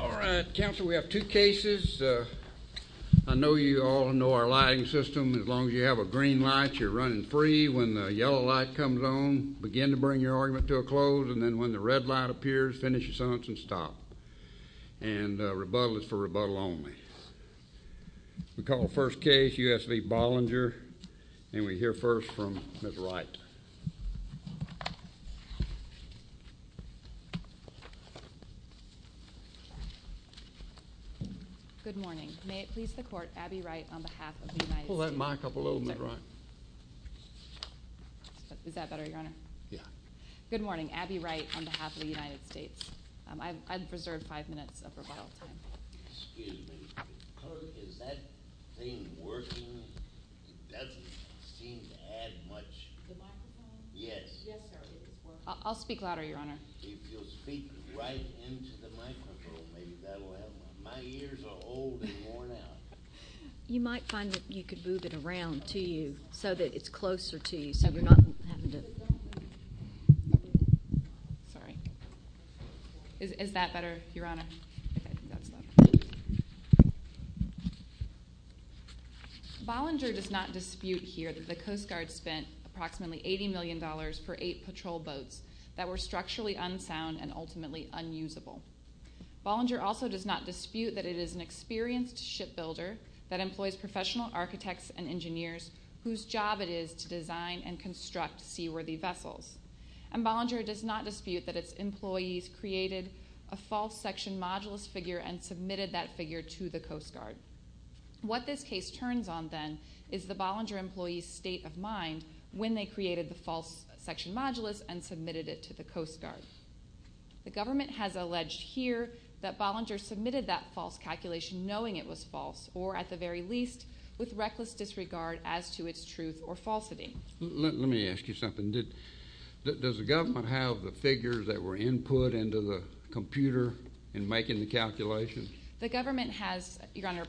All right, counsel, we have two cases. I know you all know our lighting system. As long as you have a green light, you're running free. When the yellow light comes on, begin to bring your argument to a close. And then when the red light appears, finish your sentence and stop. And rebuttal is for rebuttal only. We call the first case, U.S. v. Bollinger. And we hear first from Ms. Wright. Good morning. May it please the Court, Abby Wright on behalf of the United States. Pull that mic up a little, Ms. Wright. Is that better, Your Honor? Yeah. Good morning. Abby Wright on behalf of the United States. I've reserved five minutes of rebuttal time. Excuse me. Is that thing working? It doesn't seem to add much. The microphone? Yes. Yes, sir. I'll speak louder, Your Honor. If you'll speak right into the microphone, maybe that will help. My ears are old and worn out. You might find that you could move it around to you so that it's closer to you so you're not having to. Sorry. Is that better, Your Honor? Yeah. Bollinger does not dispute here that the Coast Guard spent approximately $80 million for eight patrol boats that were structurally unsound and ultimately unusable. Bollinger also does not dispute that it is an experienced shipbuilder that employs professional architects and engineers whose job it is to design and construct seaworthy vessels. And Bollinger does not dispute that its employees created a false section modulus figure and submitted that figure to the Coast Guard. What this case turns on then is the Bollinger employees' state of mind when they created the false section modulus and submitted it to the Coast Guard. The government has alleged here that Bollinger submitted that false calculation knowing it was false or, at the very least, with reckless disregard as to its truth or falsity. Let me ask you something. Does the government have the figures that were input into the computer in making the calculations? The government has, Your Honor,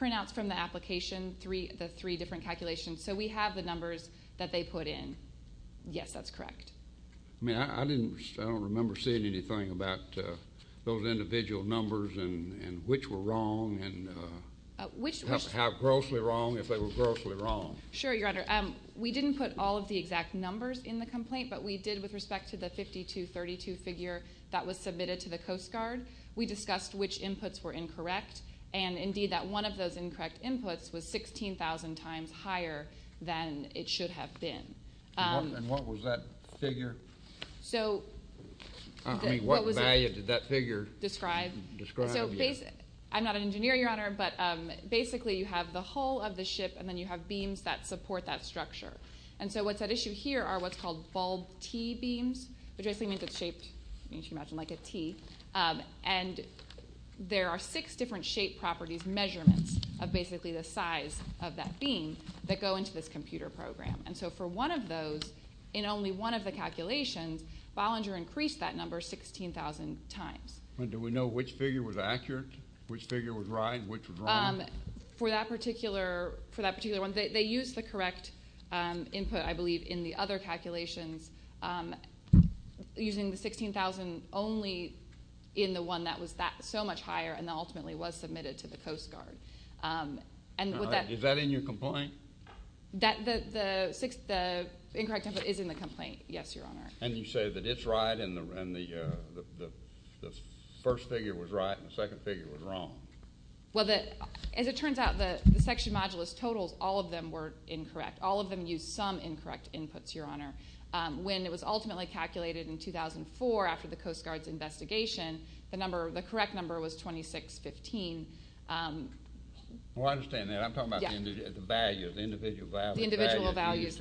printouts from the application, the three different calculations. So we have the numbers that they put in. Yes, that's correct. I mean, I don't remember seeing anything about those individual numbers and which were wrong and how grossly wrong, if they were grossly wrong. Sure, Your Honor. We didn't put all of the exact numbers in the complaint, but we did with respect to the 5232 figure that was submitted to the Coast Guard. We discussed which inputs were incorrect, and indeed that one of those incorrect inputs was 16,000 times higher than it should have been. And what was that figure? I mean, what value did that figure describe? I'm not an engineer, Your Honor, but basically you have the hull of the ship and then you have beams that support that structure. And so what's at issue here are what's called bulb T beams, which basically means it's shaped, as you can imagine, like a T. And there are six different shape properties measurements of basically the size of that beam that go into this computer program. And so for one of those, in only one of the calculations, Bollinger increased that number 16,000 times. And do we know which figure was accurate, which figure was right, and which was wrong? For that particular one, they used the correct input, I believe, in the other calculations using the 16,000 only in the one that was so much higher and that ultimately was submitted to the Coast Guard. Is that in your complaint? The incorrect input is in the complaint, yes, Your Honor. And you say that it's right and the first figure was right and the second figure was wrong. Well, as it turns out, the section modulus totals, all of them were incorrect. All of them used some incorrect inputs, Your Honor. When it was ultimately calculated in 2004 after the Coast Guard's investigation, the correct number was 2615. Well, I understand that. I'm talking about the values, the individual values. The individual values.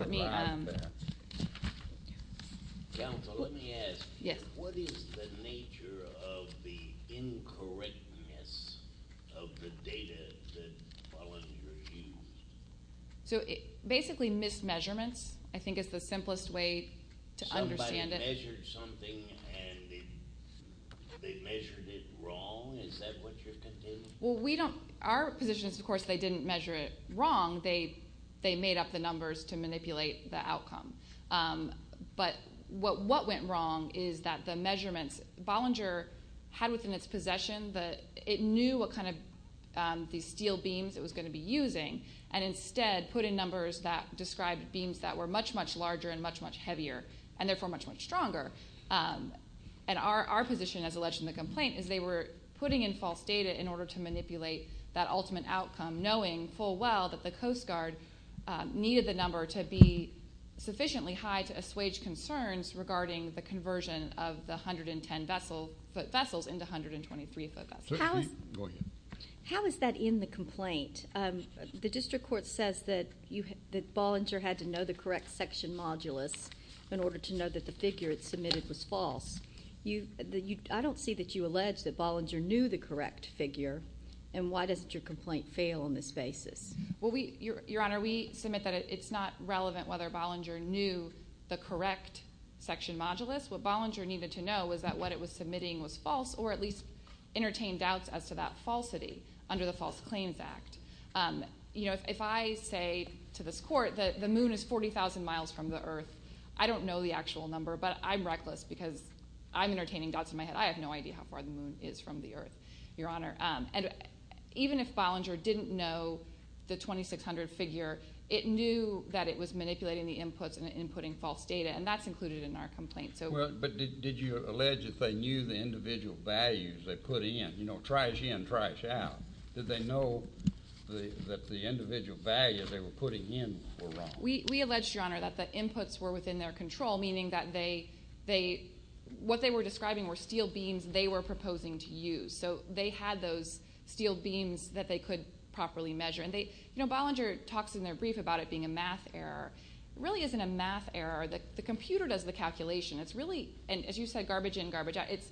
Counsel, let me ask you. What is the nature of the incorrectness of the data that Bollinger used? So basically mis-measurements I think is the simplest way to understand it. Somebody measured something and they measured it wrong. Is that what you're contending? Well, our position is, of course, they didn't measure it wrong. They made up the numbers to manipulate the outcome. But what went wrong is that the measurements Bollinger had within its possession, it knew what kind of these steel beams it was going to be using and instead put in numbers that described beams that were much, much larger and much, much heavier and, therefore, much, much stronger. And our position as alleged in the complaint is they were putting in false data in order to manipulate that ultimate outcome, knowing full well that the Coast Guard needed the number to be sufficiently high to assuage concerns regarding the conversion of the 110-foot vessels into 123-foot vessels. Go ahead. How is that in the complaint? The district court says that Bollinger had to know the correct section modulus in order to know that the figure it submitted was false. I don't see that you allege that Bollinger knew the correct figure, and why doesn't your complaint fail on this basis? Your Honor, we submit that it's not relevant whether Bollinger knew the correct section modulus. What Bollinger needed to know was that what it was submitting was false or at least entertained doubts as to that falsity under the False Claims Act. If I say to this court that the moon is 40,000 miles from the earth, I don't know the actual number, but I'm reckless because I'm entertaining doubts in my head. I have no idea how far the moon is from the earth, Your Honor. And even if Bollinger didn't know the 2,600 figure, it knew that it was manipulating the inputs and inputting false data, and that's included in our complaint. But did you allege that they knew the individual values they put in? You know, trash in, trash out. Did they know that the individual values they were putting in were wrong? We allege, Your Honor, that the inputs were within their control, meaning that what they were describing were steel beams they were proposing to use. So they had those steel beams that they could properly measure. And, you know, Bollinger talks in their brief about it being a math error. It really isn't a math error. The computer does the calculation. It's really, as you said, garbage in, garbage out. It's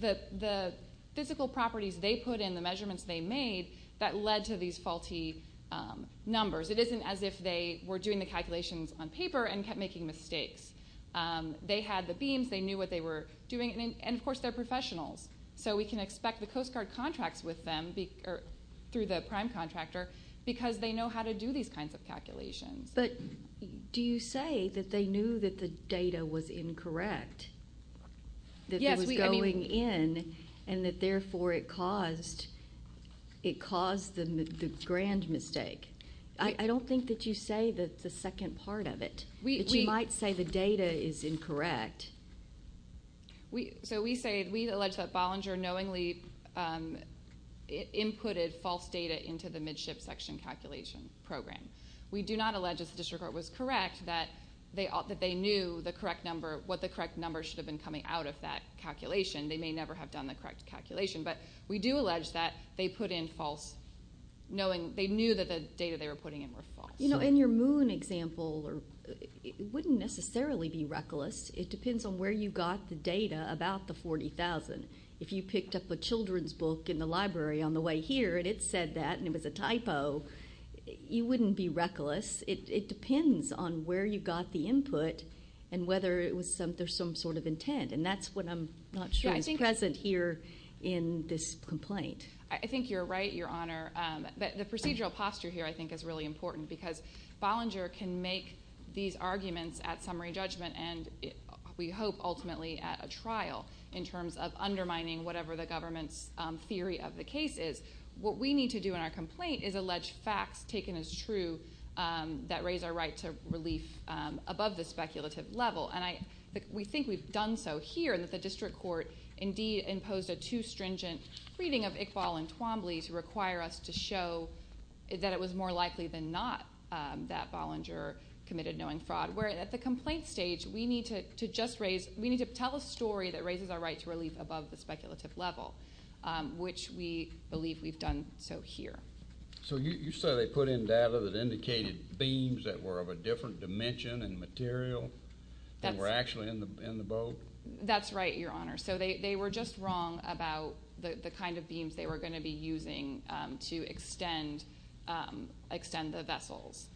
the physical properties they put in, the measurements they made, that led to these faulty numbers. It isn't as if they were doing the calculations on paper and kept making mistakes. They had the beams. They knew what they were doing. And, of course, they're professionals. So we can expect the Coast Guard contracts with them through the prime contractor because they know how to do these kinds of calculations. But do you say that they knew that the data was incorrect, that it was going in, and that, therefore, it caused the grand mistake? I don't think that you say that's the second part of it. You might say the data is incorrect. So we say we allege that Bollinger knowingly inputted false data into the midship section calculation program. We do not allege, as the district court was correct, that they knew what the correct number should have been coming out of that calculation. They may never have done the correct calculation. But we do allege that they put in false, knowing they knew that the data they were putting in were false. In your moon example, it wouldn't necessarily be reckless. It depends on where you got the data about the 40,000. If you picked up a children's book in the library on the way here and it said that and it was a typo, you wouldn't be reckless. It depends on where you got the input and whether there's some sort of intent. And that's what I'm not sure is present here in this complaint. I think you're right, Your Honor. The procedural posture here I think is really important because Bollinger can make these arguments at summary judgment and we hope ultimately at a trial in terms of undermining whatever the government's theory of the case is. What we need to do in our complaint is allege facts taken as true that raise our right to relief above the speculative level. We think we've done so here and that the district court indeed imposed a too stringent reading of Iqbal and Twombly to require us to show that it was more likely than not that Bollinger committed knowing fraud. Where at the complaint stage, we need to tell a story that raises our right to relief above the speculative level, which we believe we've done so here. So you say they put in data that indicated themes that were of a different dimension and material? That were actually in the boat? That's right, Your Honor. So they were just wrong about the kind of beams they were going to be using to extend the vessels.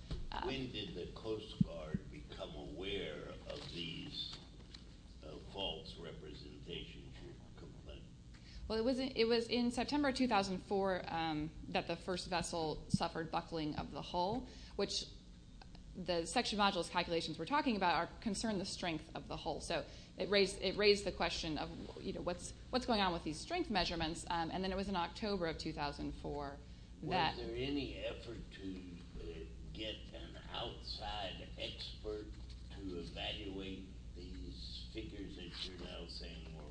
When did the Coast Guard become aware of these false representations in your complaint? Well, it was in September 2004 that the first vessel suffered buckling of the hull, which the section modules calculations we're talking about concern the strength of the hull. So it raised the question of what's going on with these strength measurements, and then it was in October of 2004 that... Was there any effort to get an outside expert to evaluate these figures that you're now saying were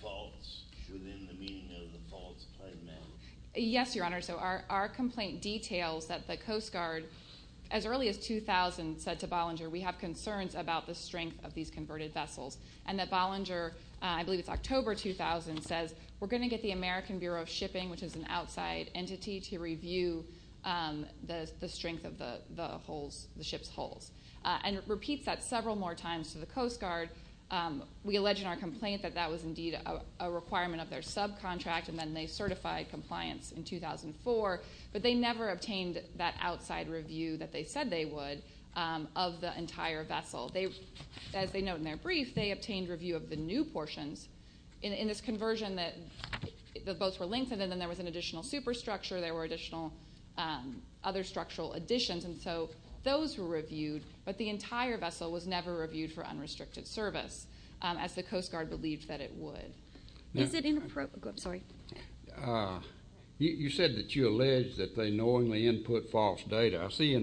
false within the meaning of the false claim now? Yes, Your Honor. So our complaint details that the Coast Guard, as early as 2000, said to Bollinger, we have concerns about the strength of these converted vessels, and that Bollinger, I believe it's October 2000, says, we're going to get the American Bureau of Shipping, which is an outside entity, to review the strength of the ship's hulls. And it repeats that several more times to the Coast Guard. We allege in our complaint that that was indeed a requirement of their subcontract, and then they certified compliance in 2004, but they never obtained that outside review that they said they would of the entire vessel. As they note in their brief, they obtained review of the new portions in this conversion that the boats were lengthened and then there was an additional superstructure, there were additional other structural additions, and so those were reviewed, but the entire vessel was never reviewed for unrestricted service, as the Coast Guard believed that it would. Is it inappropriate? I'm sorry. You said that you allege that they knowingly input false data. I see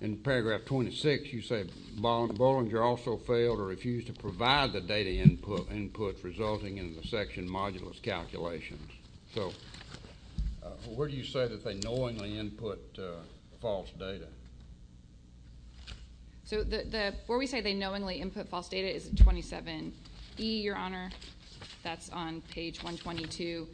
in paragraph 26 you say Bollinger also failed or refused to provide the data input resulting in the section modulus calculations. So where do you say that they knowingly input false data? So where we say they knowingly input false data is at 27E, Your Honor. That's on page 122.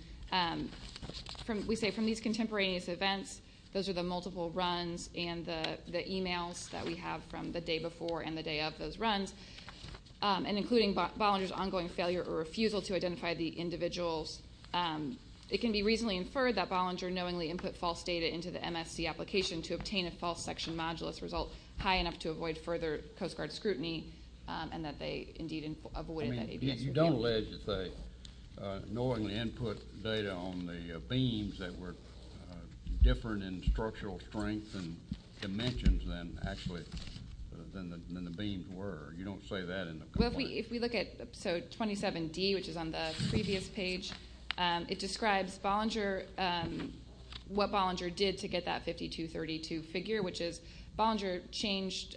We say from these contemporaneous events, those are the multiple runs and the emails that we have from the day before and the day of those runs, and including Bollinger's ongoing failure or refusal to identify the individuals. It can be reasonably inferred that Bollinger knowingly input false data into the MSC application to obtain a false section modulus result high enough to avoid further Coast Guard scrutiny and that they indeed avoided that APS review. You don't allege that they knowingly input data on the beams that were different in structural strength and dimensions than actually the beams were. You don't say that in the report. If we look at episode 27D, which is on the previous page, it describes what Bollinger did to get that 5232 figure, which is Bollinger changed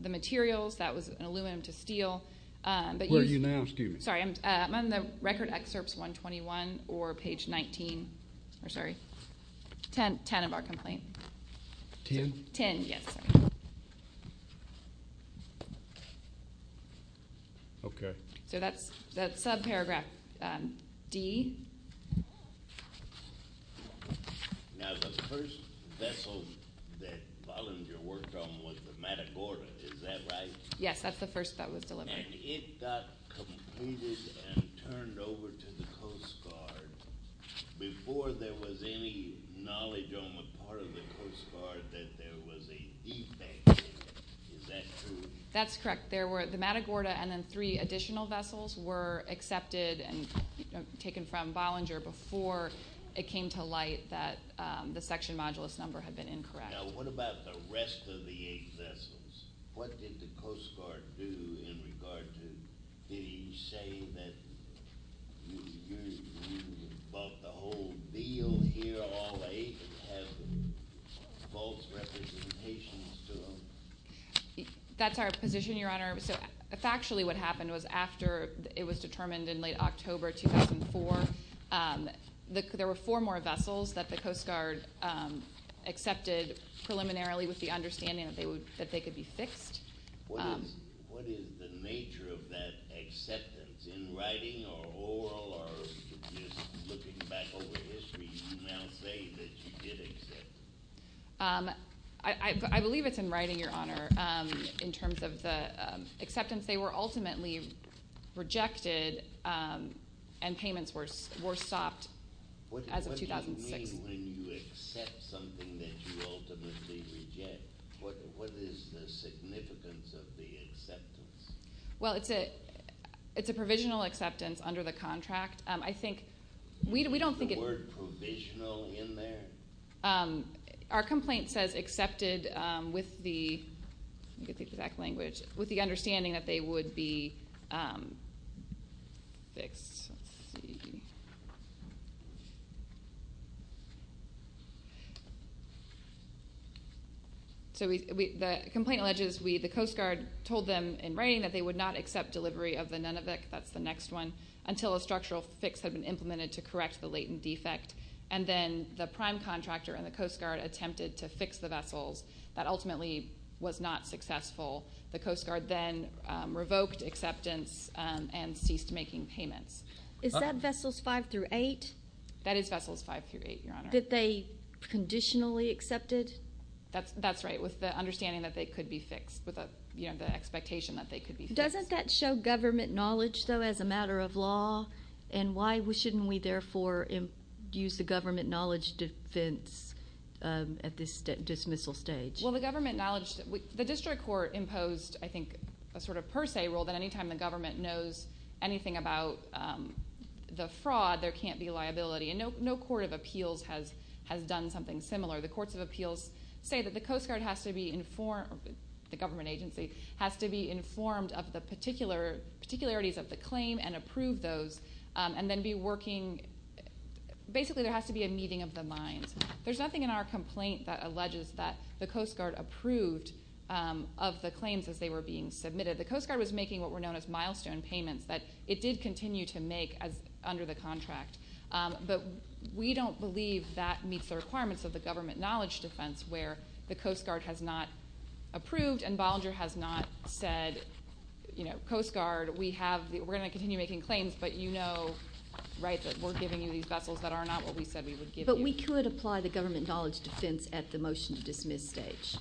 the materials. That was an aluminum to steel. Where are you now? Excuse me. I'm on the record excerpts 121 or page 19. Sorry, 10 of our complaint. Ten? Ten, yes. Okay. So that's subparagraph D. Now, the first vessel that Bollinger worked on was the Matagorda. Is that right? Yes, that's the first that was delivered. And it got completed and turned over to the Coast Guard before there was any knowledge on the part of the Coast Guard that there was a defect in it. Is that true? That's correct. The Matagorda and then three additional vessels were accepted and taken from Bollinger before it came to light that the section modulus number had been incorrect. Now, what about the rest of the eight vessels? What did the Coast Guard do in regard to, did he say that you bought the whole deal here, all eight, and have false representations to them? That's our position, Your Honor. So factually what happened was after it was determined in late October 2004, there were four more vessels that the Coast Guard accepted preliminarily with the understanding that they could be fixed. What is the nature of that acceptance in writing or oral or just looking back over history, you now say that you did accept? I believe it's in writing, Your Honor, in terms of the acceptance. They were ultimately rejected and payments were stopped as of 2006. What do you mean when you accept something that you ultimately reject? What is the significance of the acceptance? Well, it's a provisional acceptance under the contract. I think we don't think it's the word provisional in there. Our complaint says accepted with the exact language, with the understanding that they would be fixed. So the complaint alleges the Coast Guard told them in writing that they would not accept delivery of the Nunavik, that's the next one, until a structural fix had been implemented to correct the latent defect, and then the prime contractor and the Coast Guard attempted to fix the vessels. That ultimately was not successful. The Coast Guard then revoked acceptance and ceased making payments. Is that Vessels 5 through 8? That is Vessels 5 through 8, Your Honor. That they conditionally accepted? That's right, with the understanding that they could be fixed, with the expectation that they could be fixed. Doesn't that show government knowledge, though, as a matter of law, and why shouldn't we therefore use the government knowledge defense at this dismissal stage? Well, the district court imposed, I think, a sort of per se rule that any time the government knows anything about the fraud, there can't be liability. And no court of appeals has done something similar. The courts of appeals say that the Coast Guard has to be informed, the government agency has to be informed of the particularities of the claim and approve those, and then be working. Basically, there has to be a meeting of the minds. There's nothing in our complaint that alleges that the Coast Guard approved of the claims as they were being submitted. The Coast Guard was making what were known as milestone payments that it did continue to make under the contract. But we don't believe that meets the requirements of the government knowledge defense where the Coast Guard has not approved and Bollinger has not said, you know, Coast Guard, we're going to continue making claims, but you know, right, that we're giving you these vessels that are not what we said we would give you. But we could apply the government knowledge defense at the motion to dismiss stage.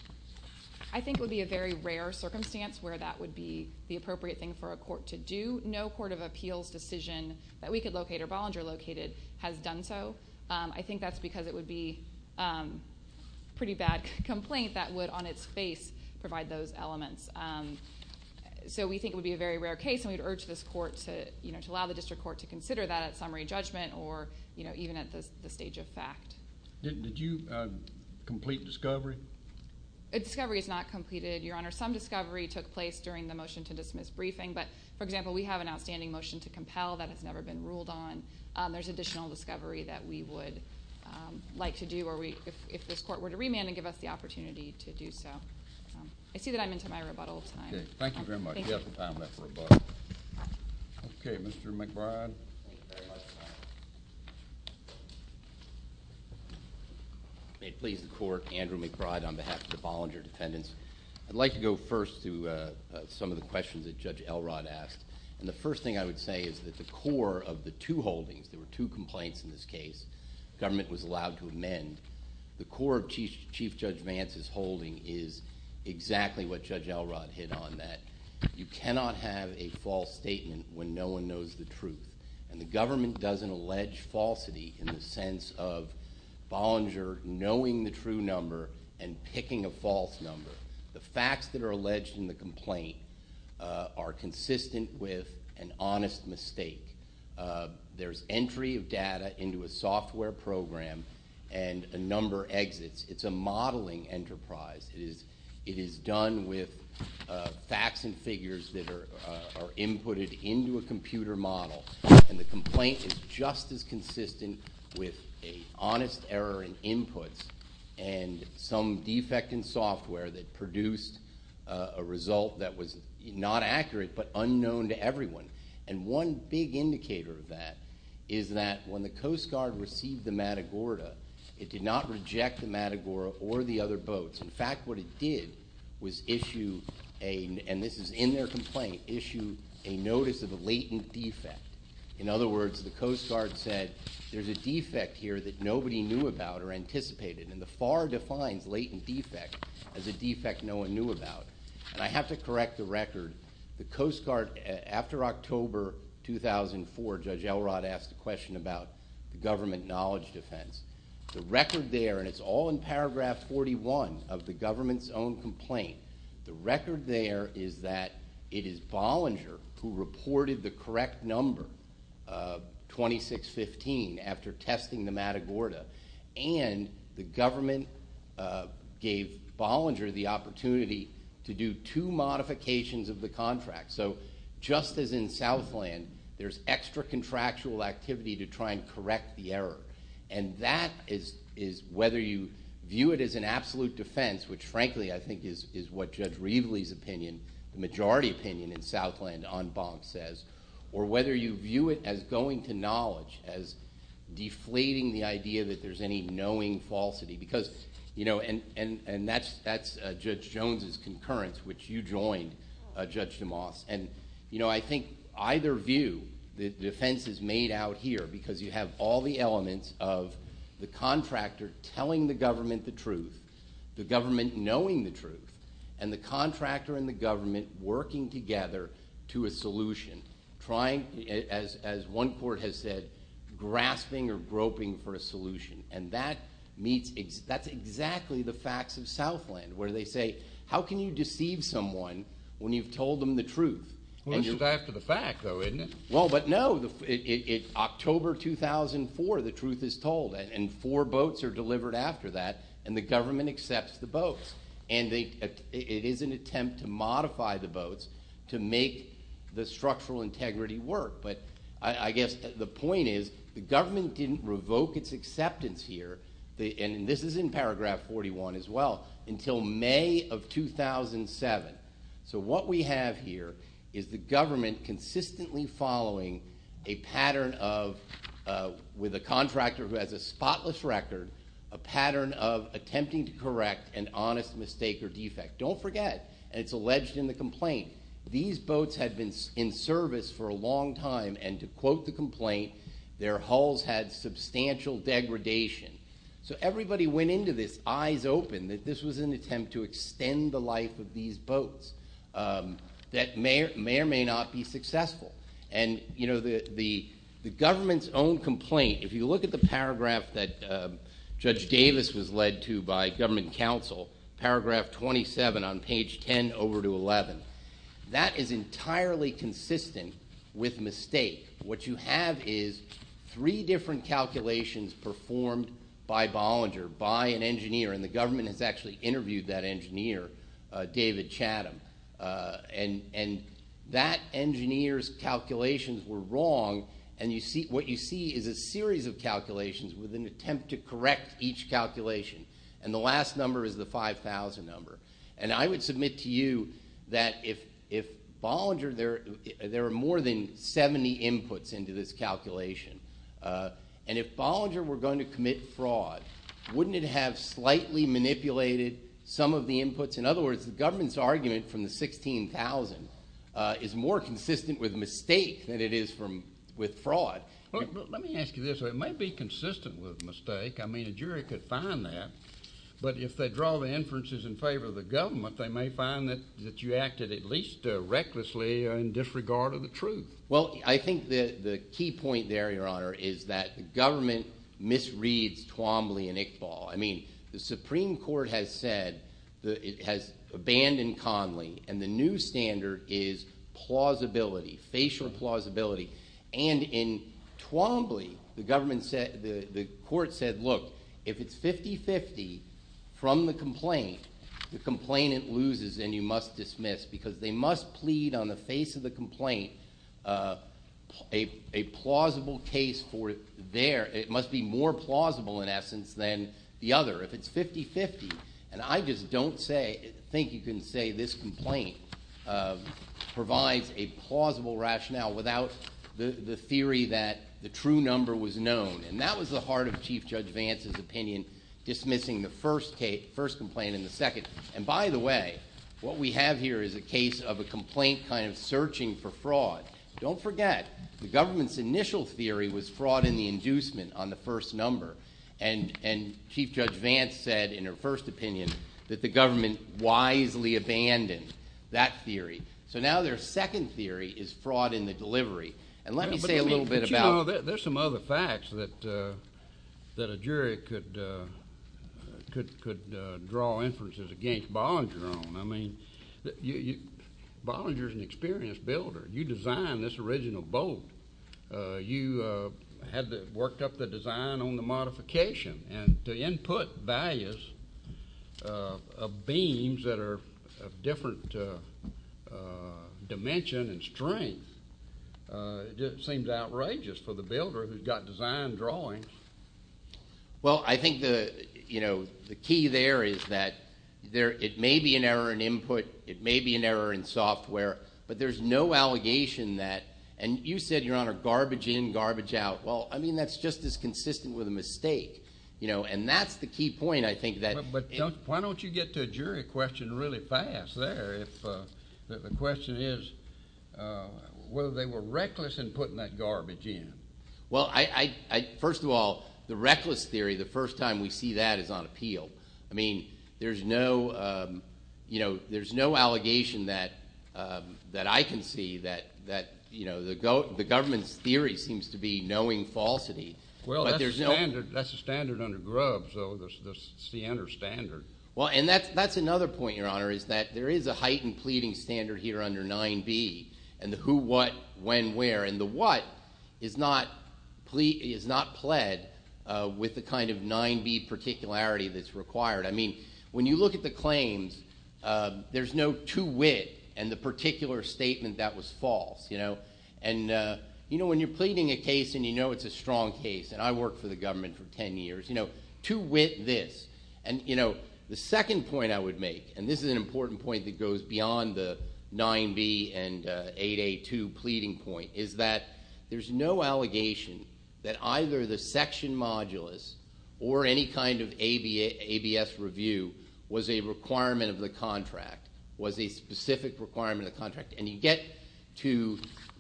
I think it would be a very rare circumstance where that would be the appropriate thing for a court to do. No court of appeals decision that we could locate or Bollinger located has done so. I think that's because it would be a pretty bad complaint that would on its face provide those elements. So we think it would be a very rare case, and we'd urge this court to, you know, to allow the district court to consider that at summary judgment or, you know, even at the stage of fact. Did you complete discovery? Discovery is not completed, Your Honor. Some discovery took place during the motion to dismiss briefing. But, for example, we have an outstanding motion to compel that has never been ruled on. There's additional discovery that we would like to do if this court were to remand and give us the opportunity to do so. I see that I'm into my rebuttal time. Thank you very much. You have the time left for rebuttal. Okay, Mr. McBride. May it please the court, Andrew McBride on behalf of the Bollinger defendants. I'd like to go first to some of the questions that Judge Elrod asked. And the first thing I would say is that the core of the two holdings, there were two complaints in this case, government was allowed to amend. The core of Chief Judge Vance's holding is exactly what Judge Elrod hit on, that you cannot have a false statement when no one knows the truth. And the government doesn't allege falsity in the sense of Bollinger knowing the true number and picking a false number. The facts that are alleged in the complaint are consistent with an honest mistake. There's entry of data into a software program and a number exits. It's a modeling enterprise. It is done with facts and figures that are inputted into a computer model. And the complaint is just as consistent with an honest error in inputs and some defect in software that produced a result that was not accurate but unknown to everyone. And one big indicator of that is that when the Coast Guard received the Matagorda, it did not reject the Matagorda or the other boats. In fact, what it did was issue a, and this is in their complaint, issue a notice of a latent defect. In other words, the Coast Guard said there's a defect here that nobody knew about or anticipated. And the FAR defines latent defect as a defect no one knew about. And I have to correct the record. The Coast Guard, after October 2004, Judge Elrod asked a question about the government knowledge defense. The record there, and it's all in paragraph 41 of the government's own complaint, the record there is that it is Bollinger who reported the correct number, 2615, after testing the Matagorda. And the government gave Bollinger the opportunity to do two modifications of the contract. So just as in Southland, there's extra contractual activity to try and correct the error. And that is whether you view it as an absolute defense, which, frankly, I think is what Judge Reveley's opinion, the majority opinion in Southland en banc says, or whether you view it as going to knowledge, as deflating the idea that there's any knowing falsity. Because, you know, and that's Judge Jones's concurrence, which you joined, Judge DeMoss. And, you know, I think either view, the defense is made out here because you have all the elements of the contractor telling the government the truth, the government knowing the truth, and the contractor and the government working together to a solution, trying, as one court has said, grasping or groping for a solution. And that meets – that's exactly the facts of Southland, where they say, how can you deceive someone when you've told them the truth? Well, this is after the fact, though, isn't it? Well, but no. In October 2004, the truth is told, and four boats are delivered after that, and the government accepts the boats. And it is an attempt to modify the boats to make the structural integrity work. But I guess the point is the government didn't revoke its acceptance here, and this is in paragraph 41 as well, until May of 2007. So what we have here is the government consistently following a pattern of, with a contractor who has a spotless record, a pattern of attempting to correct an honest mistake or defect. Don't forget, and it's alleged in the complaint, these boats had been in service for a long time, and to quote the complaint, their hulls had substantial degradation. So everybody went into this eyes open that this was an attempt to extend the life of these boats that may or may not be successful. And, you know, the government's own complaint, if you look at the paragraph that Judge Davis was led to by government counsel, paragraph 27 on page 10 over to 11, that is entirely consistent with mistake. What you have is three different calculations performed by Bollinger, by an engineer, and the government has actually interviewed that engineer, David Chatham. And that engineer's calculations were wrong, and what you see is a series of calculations with an attempt to correct each calculation. And the last number is the 5,000 number. And I would submit to you that if Bollinger, there are more than 70 inputs into this calculation, and if Bollinger were going to commit fraud, wouldn't it have slightly manipulated some of the inputs? In other words, the government's argument from the 16,000 is more consistent with mistake than it is with fraud. Let me ask you this. It might be consistent with mistake. I mean, a jury could find that, but if they draw the inferences in favor of the government, they may find that you acted at least recklessly in disregard of the truth. Well, I think the key point there, Your Honor, is that the government misreads Twombly and Iqbal. I mean, the Supreme Court has said it has abandoned Conley, and the new standard is plausibility, facial plausibility. And in Twombly, the government said, the court said, look, if it's 50-50 from the complaint, the complainant loses and you must dismiss because they must plead on the face of the complaint a plausible case for their, it must be more plausible in essence than the other if it's 50-50. And I just don't say, think you can say this complaint provides a plausible rationale without the theory that the true number was known. And that was the heart of Chief Judge Vance's opinion, dismissing the first complaint and the second. And by the way, what we have here is a case of a complaint kind of searching for fraud. Don't forget, the government's initial theory was fraud in the inducement on the first number. And Chief Judge Vance said in her first opinion that the government wisely abandoned that theory. So now their second theory is fraud in the delivery. And let me say a little bit about it. But, you know, there's some other facts that a jury could draw inferences against Bollinger on. I mean, Bollinger's an experienced builder. You designed this original boat. You had worked up the design on the modification. And the input values of beams that are of different dimension and strength seems outrageous for the builder who's got design drawings. Well, I think the, you know, the key there is that it may be an error in input. It may be an error in software. But there's no allegation that. And you said, Your Honor, garbage in, garbage out. Well, I mean, that's just as consistent with a mistake. You know, and that's the key point, I think, that. But why don't you get to a jury question really fast there if the question is whether they were reckless in putting that garbage in. Well, first of all, the reckless theory, the first time we see that is on appeal. I mean, there's no, you know, there's no allegation that I can see that, you know, the government's theory seems to be knowing falsity. Well, that's the standard under Grubbs, though. It's the inner standard. Well, and that's another point, Your Honor, is that there is a heightened pleading standard here under 9B and the who, what, when, where. And the what is not pled with the kind of 9B particularity that's required. I mean, when you look at the claims, there's no to wit and the particular statement that was false, you know. And, you know, when you're pleading a case and you know it's a strong case, and I worked for the government for ten years, you know, to wit this. And, you know, the second point I would make, and this is an important point that goes beyond the 9B and 882 pleading point, is that there's no allegation that either the section modulus or any kind of ABS review was a requirement of the contract, was a specific requirement of the contract. And you get to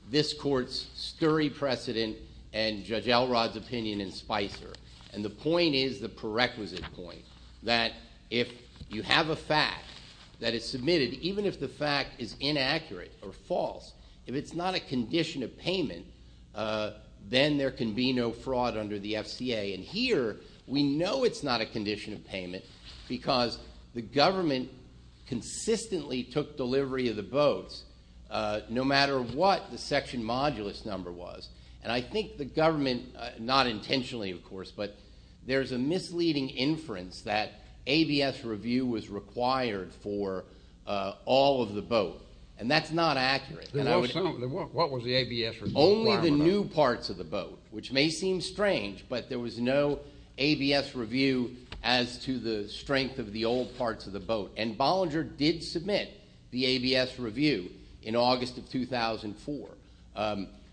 this court's sturry precedent and Judge Elrod's opinion in Spicer. And the point is, the prerequisite point, that if you have a fact that is submitted, even if the fact is inaccurate or false, if it's not a condition of payment, then there can be no fraud under the FCA. And here, we know it's not a condition of payment because the government consistently took delivery of the boats, no matter what the section modulus number was. And I think the government, not intentionally, of course, but there's a misleading inference that ABS review was required for all of the boat. And that's not accurate. What was the ABS review required? Only the new parts of the boat, which may seem strange, but there was no ABS review as to the strength of the old parts of the boat. And Bollinger did submit the ABS review in August of 2004.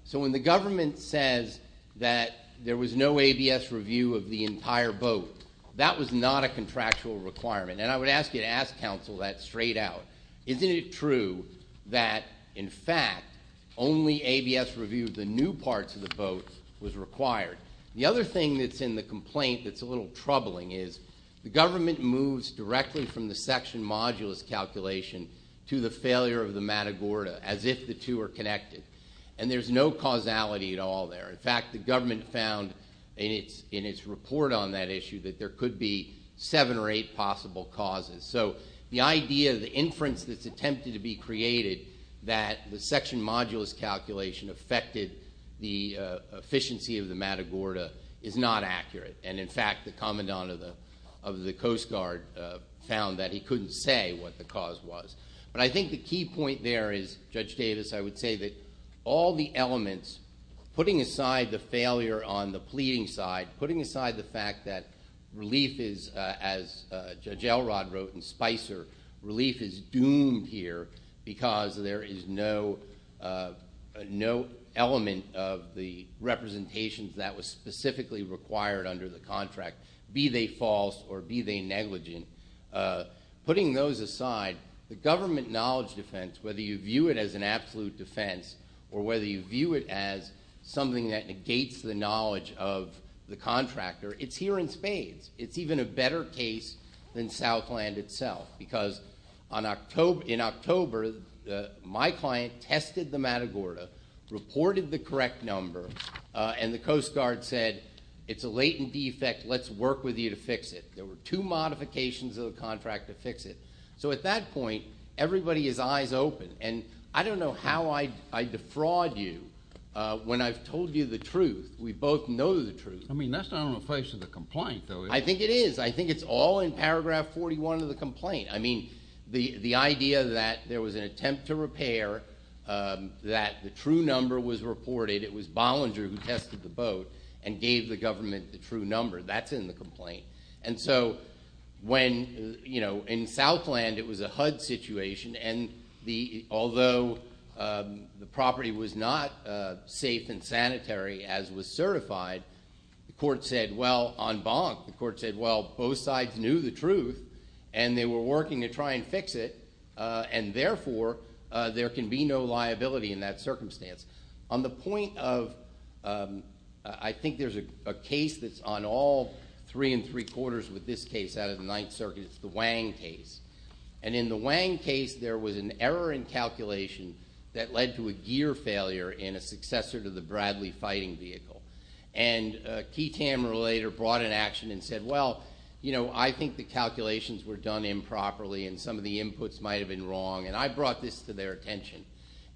So when the government says that there was no ABS review of the entire boat, that was not a contractual requirement. And I would ask you to ask counsel that straight out. Isn't it true that, in fact, only ABS review of the new parts of the boat was required? The other thing that's in the complaint that's a little troubling is the government moves directly from the section modulus calculation to the failure of the Matagorda as if the two are connected. And there's no causality at all there. In fact, the government found in its report on that issue that there could be seven or eight possible causes. So the idea, the inference that's attempted to be created that the section modulus calculation affected the efficiency of the Matagorda is not accurate. And, in fact, the commandant of the Coast Guard found that he couldn't say what the cause was. But I think the key point there is, Judge Davis, I would say that all the elements, putting aside the failure on the pleading side, putting aside the fact that relief is, as Judge Elrod wrote in Spicer, relief is doomed here because there is no element of the representations that was specifically required under the contract, be they false or be they negligent. Putting those aside, the government knowledge defense, whether you view it as an absolute defense or whether you view it as something that negates the knowledge of the contractor, it's here in spades. It's even a better case than Southland itself because in October, my client tested the Matagorda, reported the correct number, and the Coast Guard said it's a latent defect. Let's work with you to fix it. There were two modifications of the contract to fix it. So at that point, everybody is eyes open. And I don't know how I defraud you when I've told you the truth. We both know the truth. I mean, that's not on the face of the complaint, though, is it? I think it is. I think it's all in paragraph 41 of the complaint. I mean, the idea that there was an attempt to repair, that the true number was reported, it was Bollinger who tested the boat and gave the government the true number, that's in the complaint. And so when, you know, in Southland it was a HUD situation, and although the property was not safe and sanitary as was certified, the court said, well, on Bonk, the court said, well, both sides knew the truth, and they were working to try and fix it, and therefore there can be no liability in that circumstance. On the point of, I think there's a case that's on all three and three quarters with this case out of the Ninth Circuit. It's the Wang case. And in the Wang case, there was an error in calculation that led to a gear failure in a successor to the Bradley fighting vehicle. And a key tamer later brought an action and said, well, you know, I think the calculations were done improperly, and some of the inputs might have been wrong, and I brought this to their attention.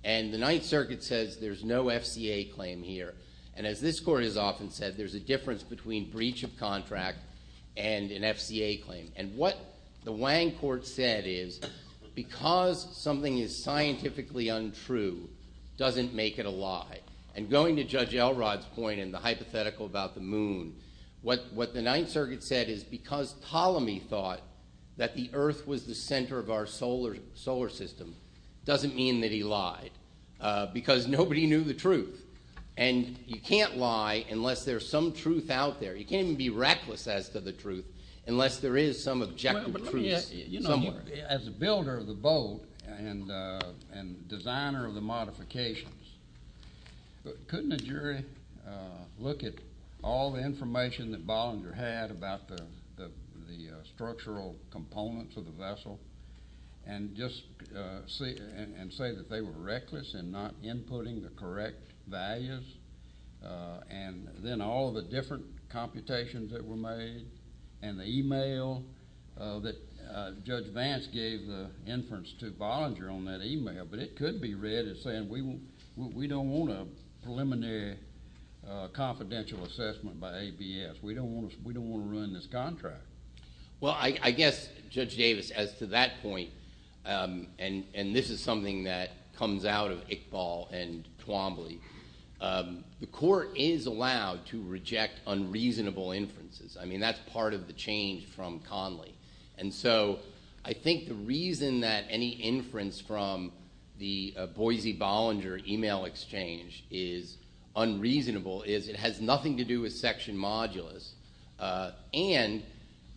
And the Ninth Circuit says there's no FCA claim here. And as this court has often said, there's a difference between breach of contract and an FCA claim. And what the Wang court said is because something is scientifically untrue doesn't make it a lie. And going to Judge Elrod's point and the hypothetical about the moon, what the Ninth Circuit said is because Ptolemy thought that the earth was the center of our solar system doesn't mean that he lied because nobody knew the truth. And you can't lie unless there's some truth out there. You can't even be reckless as to the truth unless there is some objective truth somewhere. As a builder of the boat and designer of the modifications, couldn't a jury look at all the information that Bollinger had about the structural components of the vessel and say that they were reckless in not inputting the correct values? And then all of the different computations that were made and the e-mail that Judge Vance gave the inference to Bollinger on that e-mail, but it could be read as saying we don't want a preliminary confidential assessment by ABS. We don't want to ruin this contract. Well, I guess, Judge Davis, as to that point, and this is something that comes out of Iqbal and Twombly, the court is allowed to reject unreasonable inferences. I mean that's part of the change from Conley. And so I think the reason that any inference from the Boise-Bollinger e-mail exchange is unreasonable is it has nothing to do with Section Modulus. And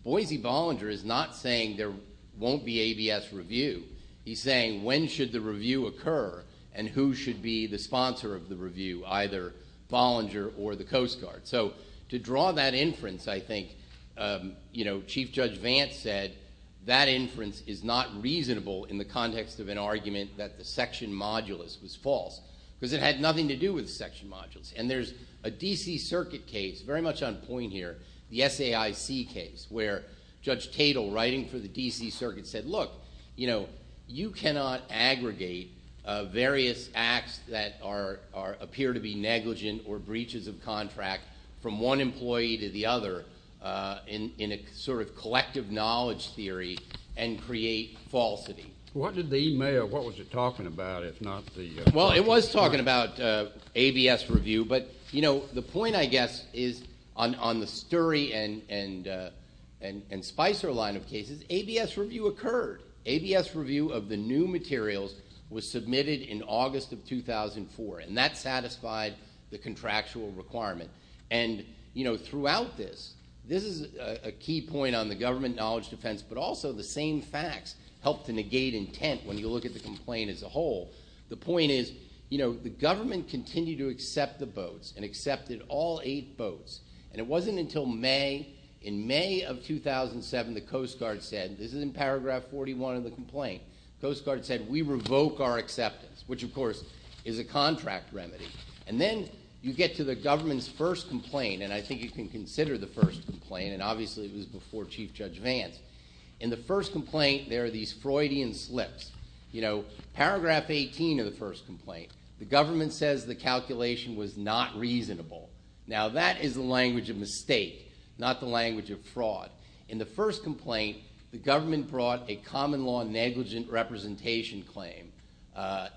Boise-Bollinger is not saying there won't be ABS review. He's saying when should the review occur and who should be the sponsor of the review, either Bollinger or the Coast Guard. So to draw that inference, I think, you know, Chief Judge Vance said that inference is not reasonable in the context of an argument that the Section Modulus was false because it had nothing to do with Section Modulus. And there's a D.C. Circuit case very much on point here, the SAIC case, where Judge Tatel writing for the D.C. Circuit said, look, you know, various acts that appear to be negligent or breaches of contract from one employee to the other in a sort of collective knowledge theory and create falsity. What did the e-mail – what was it talking about, if not the – Well, it was talking about ABS review. But, you know, the point, I guess, is on the Sturry and Spicer line of cases, ABS review occurred. ABS review of the new materials was submitted in August of 2004, and that satisfied the contractual requirement. And, you know, throughout this, this is a key point on the government knowledge defense, but also the same facts help to negate intent when you look at the complaint as a whole. The point is, you know, the government continued to accept the boats and accepted all eight boats. And it wasn't until May – in May of 2007, the Coast Guard said – this is in paragraph 41 of the complaint – the Coast Guard said, we revoke our acceptance, which, of course, is a contract remedy. And then you get to the government's first complaint, and I think you can consider the first complaint, and obviously it was before Chief Judge Vance. In the first complaint, there are these Freudian slips. You know, paragraph 18 of the first complaint, the government says the calculation was not reasonable. Now that is the language of mistake, not the language of fraud. In the first complaint, the government brought a common law negligent representation claim,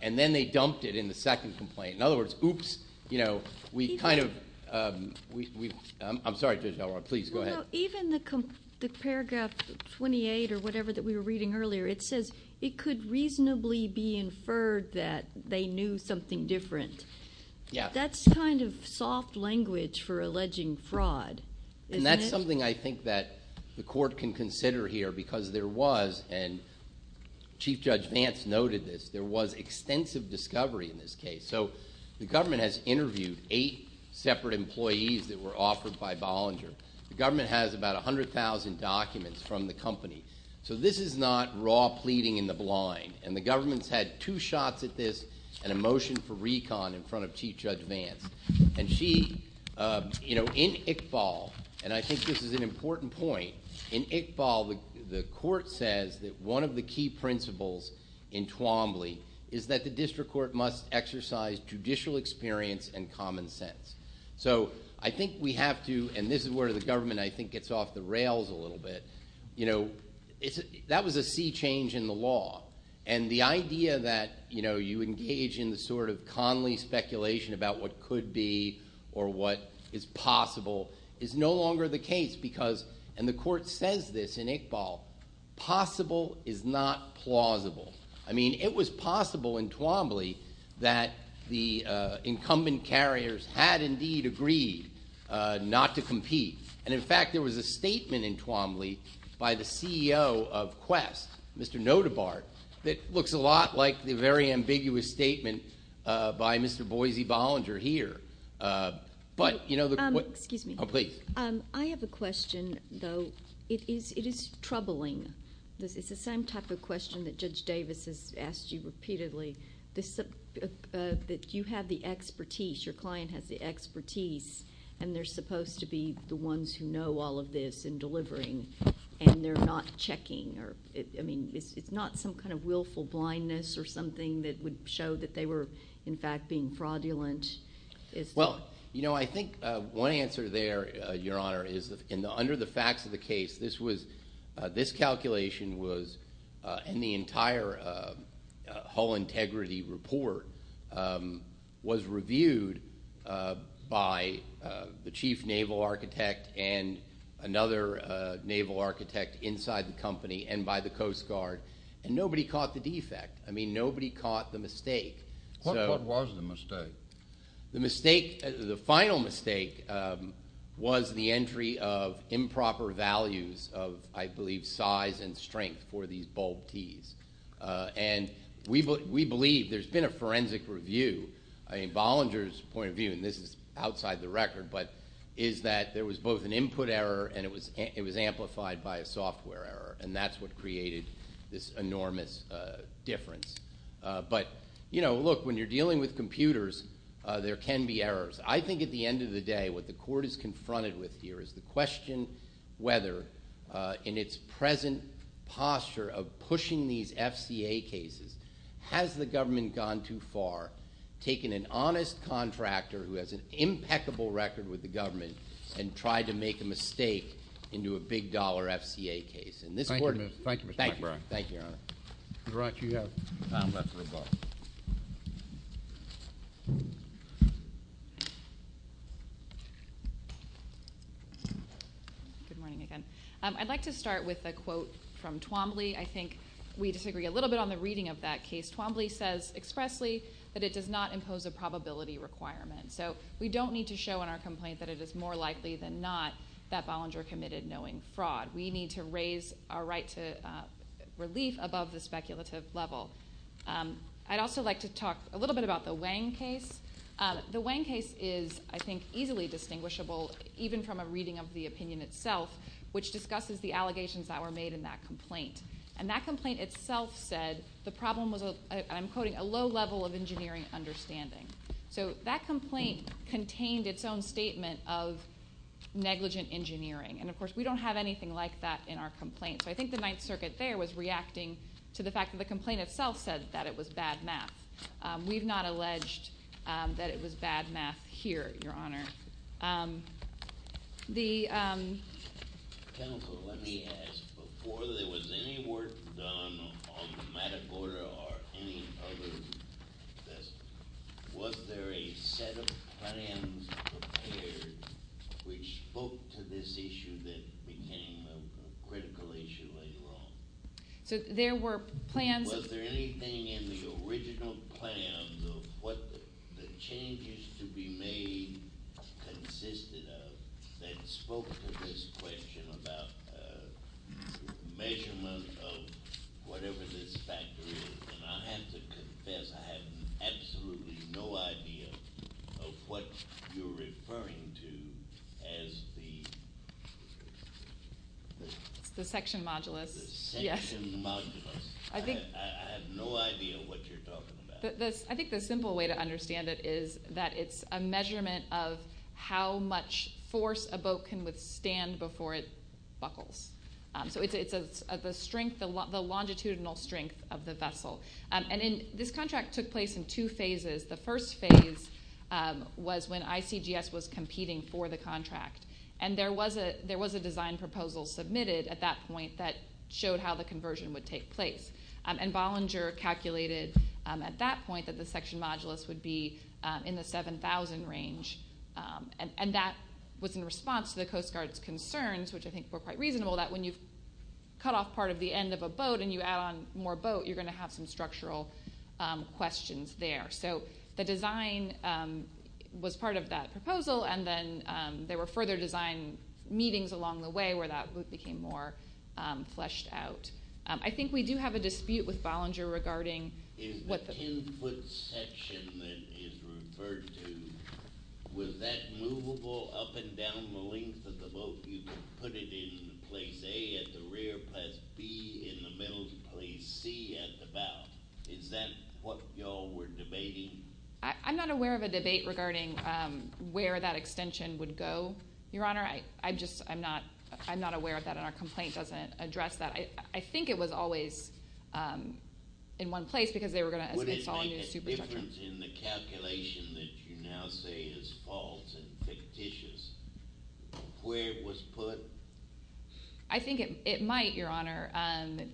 and then they dumped it in the second complaint. In other words, oops, you know, we kind of – I'm sorry, Judge Elrond, please go ahead. Even the paragraph 28 or whatever that we were reading earlier, it says it could reasonably be inferred that they knew something different. That's kind of soft language for alleging fraud, isn't it? And that's something I think that the court can consider here because there was – and Chief Judge Vance noted this – there was extensive discovery in this case. So the government has interviewed eight separate employees that were offered by Bollinger. The government has about 100,000 documents from the company. So this is not raw pleading in the blind, and the government's had two shots at this and a motion for recon in front of Chief Judge Vance. And she – you know, in Iqbal, and I think this is an important point, in Iqbal, the court says that one of the key principles in Twombly is that the district court must exercise judicial experience and common sense. So I think we have to – and this is where the government, I think, gets off the rails a little bit. You know, that was a sea change in the law. And the idea that, you know, you engage in the sort of Conley speculation about what could be or what is possible is no longer the case because – and the court says this in Iqbal – possible is not plausible. I mean, it was possible in Twombly that the incumbent carriers had indeed agreed not to compete. And, in fact, there was a statement in Twombly by the CEO of Quest, Mr. Notabart, that looks a lot like the very ambiguous statement by Mr. Boise Bollinger here. But, you know, the – Excuse me. Oh, please. I have a question, though. It is troubling. It's the same type of question that Judge Davis has asked you repeatedly, that you have the expertise, your client has the expertise, and they're supposed to be the ones who know all of this and delivering, and they're not checking. I mean, it's not some kind of willful blindness or something that would show that they were, in fact, being fraudulent. Well, you know, I think one answer there, Your Honor, is that under the facts of the case, this calculation was, and the entire hull integrity report was reviewed by the chief naval architect and another naval architect inside the company and by the Coast Guard, and nobody caught the defect. I mean, nobody caught the mistake. What was the mistake? The final mistake was the entry of improper values of, I believe, size and strength for these bulb tees. And we believe there's been a forensic review. I mean, Bollinger's point of view, and this is outside the record, but is that there was both an input error and it was amplified by a software error, and that's what created this enormous difference. But, you know, look, when you're dealing with computers, there can be errors. I think at the end of the day, what the court is confronted with here is the question whether, in its present posture of pushing these FCA cases, has the government gone too far, taken an honest contractor who has an impeccable record with the government, and tried to make a mistake into a big-dollar FCA case. Thank you, Mr. McBurn. Thank you, Your Honor. The right you have. I'm left with both. Good morning again. I'd like to start with a quote from Twombly. I think we disagree a little bit on the reading of that case. Twombly says expressly that it does not impose a probability requirement. So we don't need to show in our complaint that it is more likely than not that Bollinger committed knowing fraud. We need to raise our right to relief above the speculative level. I'd also like to talk a little bit about the Wang case. The Wang case is, I think, easily distinguishable, even from a reading of the opinion itself, which discusses the allegations that were made in that complaint. And that complaint itself said the problem was, I'm quoting, a low level of engineering understanding. So that complaint contained its own statement of negligent engineering. And, of course, we don't have anything like that in our complaint. So I think the Ninth Circuit there was reacting to the fact that the complaint itself said that it was bad math. We've not alleged that it was bad math here, Your Honor. Counsel, let me ask, before there was any work done on the Matagorda or any others, was there a set of plans prepared which spoke to this issue that became a critical issue later on? So there were plans. Was there anything in the original plans of what the changes to be made consisted of that spoke to this question about measurement of whatever this factor is? And I have to confess I have absolutely no idea of what you're referring to as the… The section modulus. The section modulus. I have no idea what you're talking about. I think the simple way to understand it is that it's a measurement of how much force a boat can withstand before it buckles. So it's the strength, the longitudinal strength of the vessel. And this contract took place in two phases. The first phase was when ICGS was competing for the contract. And there was a design proposal submitted at that point that showed how the conversion would take place. And Bollinger calculated at that point that the section modulus would be in the 7,000 range. And that was in response to the Coast Guard's concerns, which I think were quite reasonable, that when you've cut off part of the end of a boat and you add on more boat, you're going to have some structural questions there. So the design was part of that proposal. And then there were further design meetings along the way where that became more fleshed out. I think we do have a dispute with Bollinger regarding what the… In the 10-foot section that is referred to, was that movable up and down the length of the boat? You could put it in place A at the rear, place B in the middle, place C at the bow. Is that what you all were debating? I'm not aware of a debate regarding where that extension would go, Your Honor. I just am not aware of that, and our complaint doesn't address that. I think it was always in one place because they were going to install a new superstructure. Would it make a difference in the calculation that you now say is false and fictitious where it was put? I think it might, Your Honor,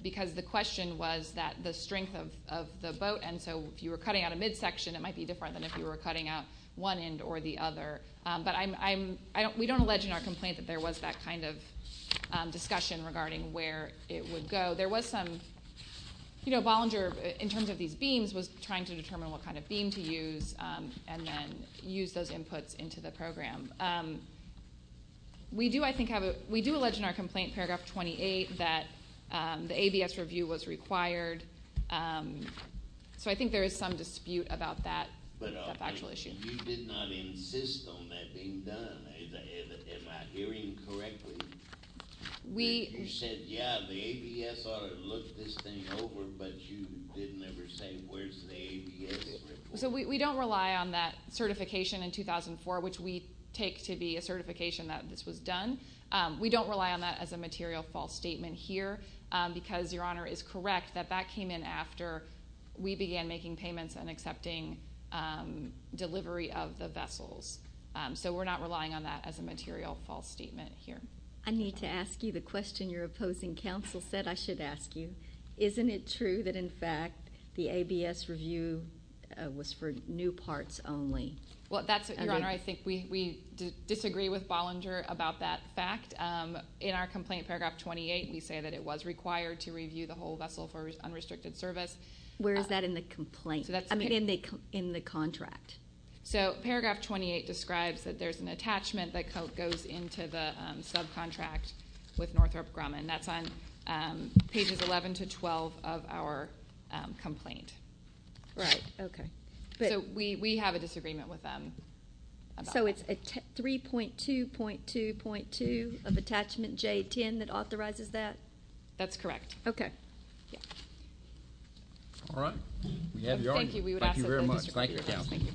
because the question was the strength of the boat, and so if you were cutting out a midsection, it might be different than if you were cutting out one end or the other. But we don't allege in our complaint that there was that kind of discussion regarding where it would go. There was some—Bollinger, in terms of these beams, was trying to determine what kind of beam to use and then use those inputs into the program. We do, I think, have a—we do allege in our complaint, paragraph 28, that the ABS review was required, so I think there is some dispute about that factual issue. But you did not insist on that being done. Am I hearing correctly? You said, yeah, the ABS ought to look this thing over, but you didn't ever say where's the ABS report. So we don't rely on that certification in 2004, which we take to be a certification that this was done. We don't rely on that as a material false statement here because, Your Honor, it is correct that that came in after we began making payments and accepting delivery of the vessels. So we're not relying on that as a material false statement here. I need to ask you the question your opposing counsel said I should ask you. Isn't it true that, in fact, the ABS review was for new parts only? Well, that's—Your Honor, I think we disagree with Bollinger about that fact. In our complaint, paragraph 28, we say that it was required to review the whole vessel for unrestricted service. Where is that in the complaint—I mean, in the contract? So paragraph 28 describes that there's an attachment that goes into the subcontract with Northrop Grumman. That's on pages 11 to 12 of our complaint. Right. Okay. So we have a disagreement with them about that. So it's 3.2.2.2 of attachment J10 that authorizes that? That's correct. Okay. Yeah. We have your— Thank you. We would ask that they disagree with us. Thank you very much. Thank you, Your Honor. Thank you.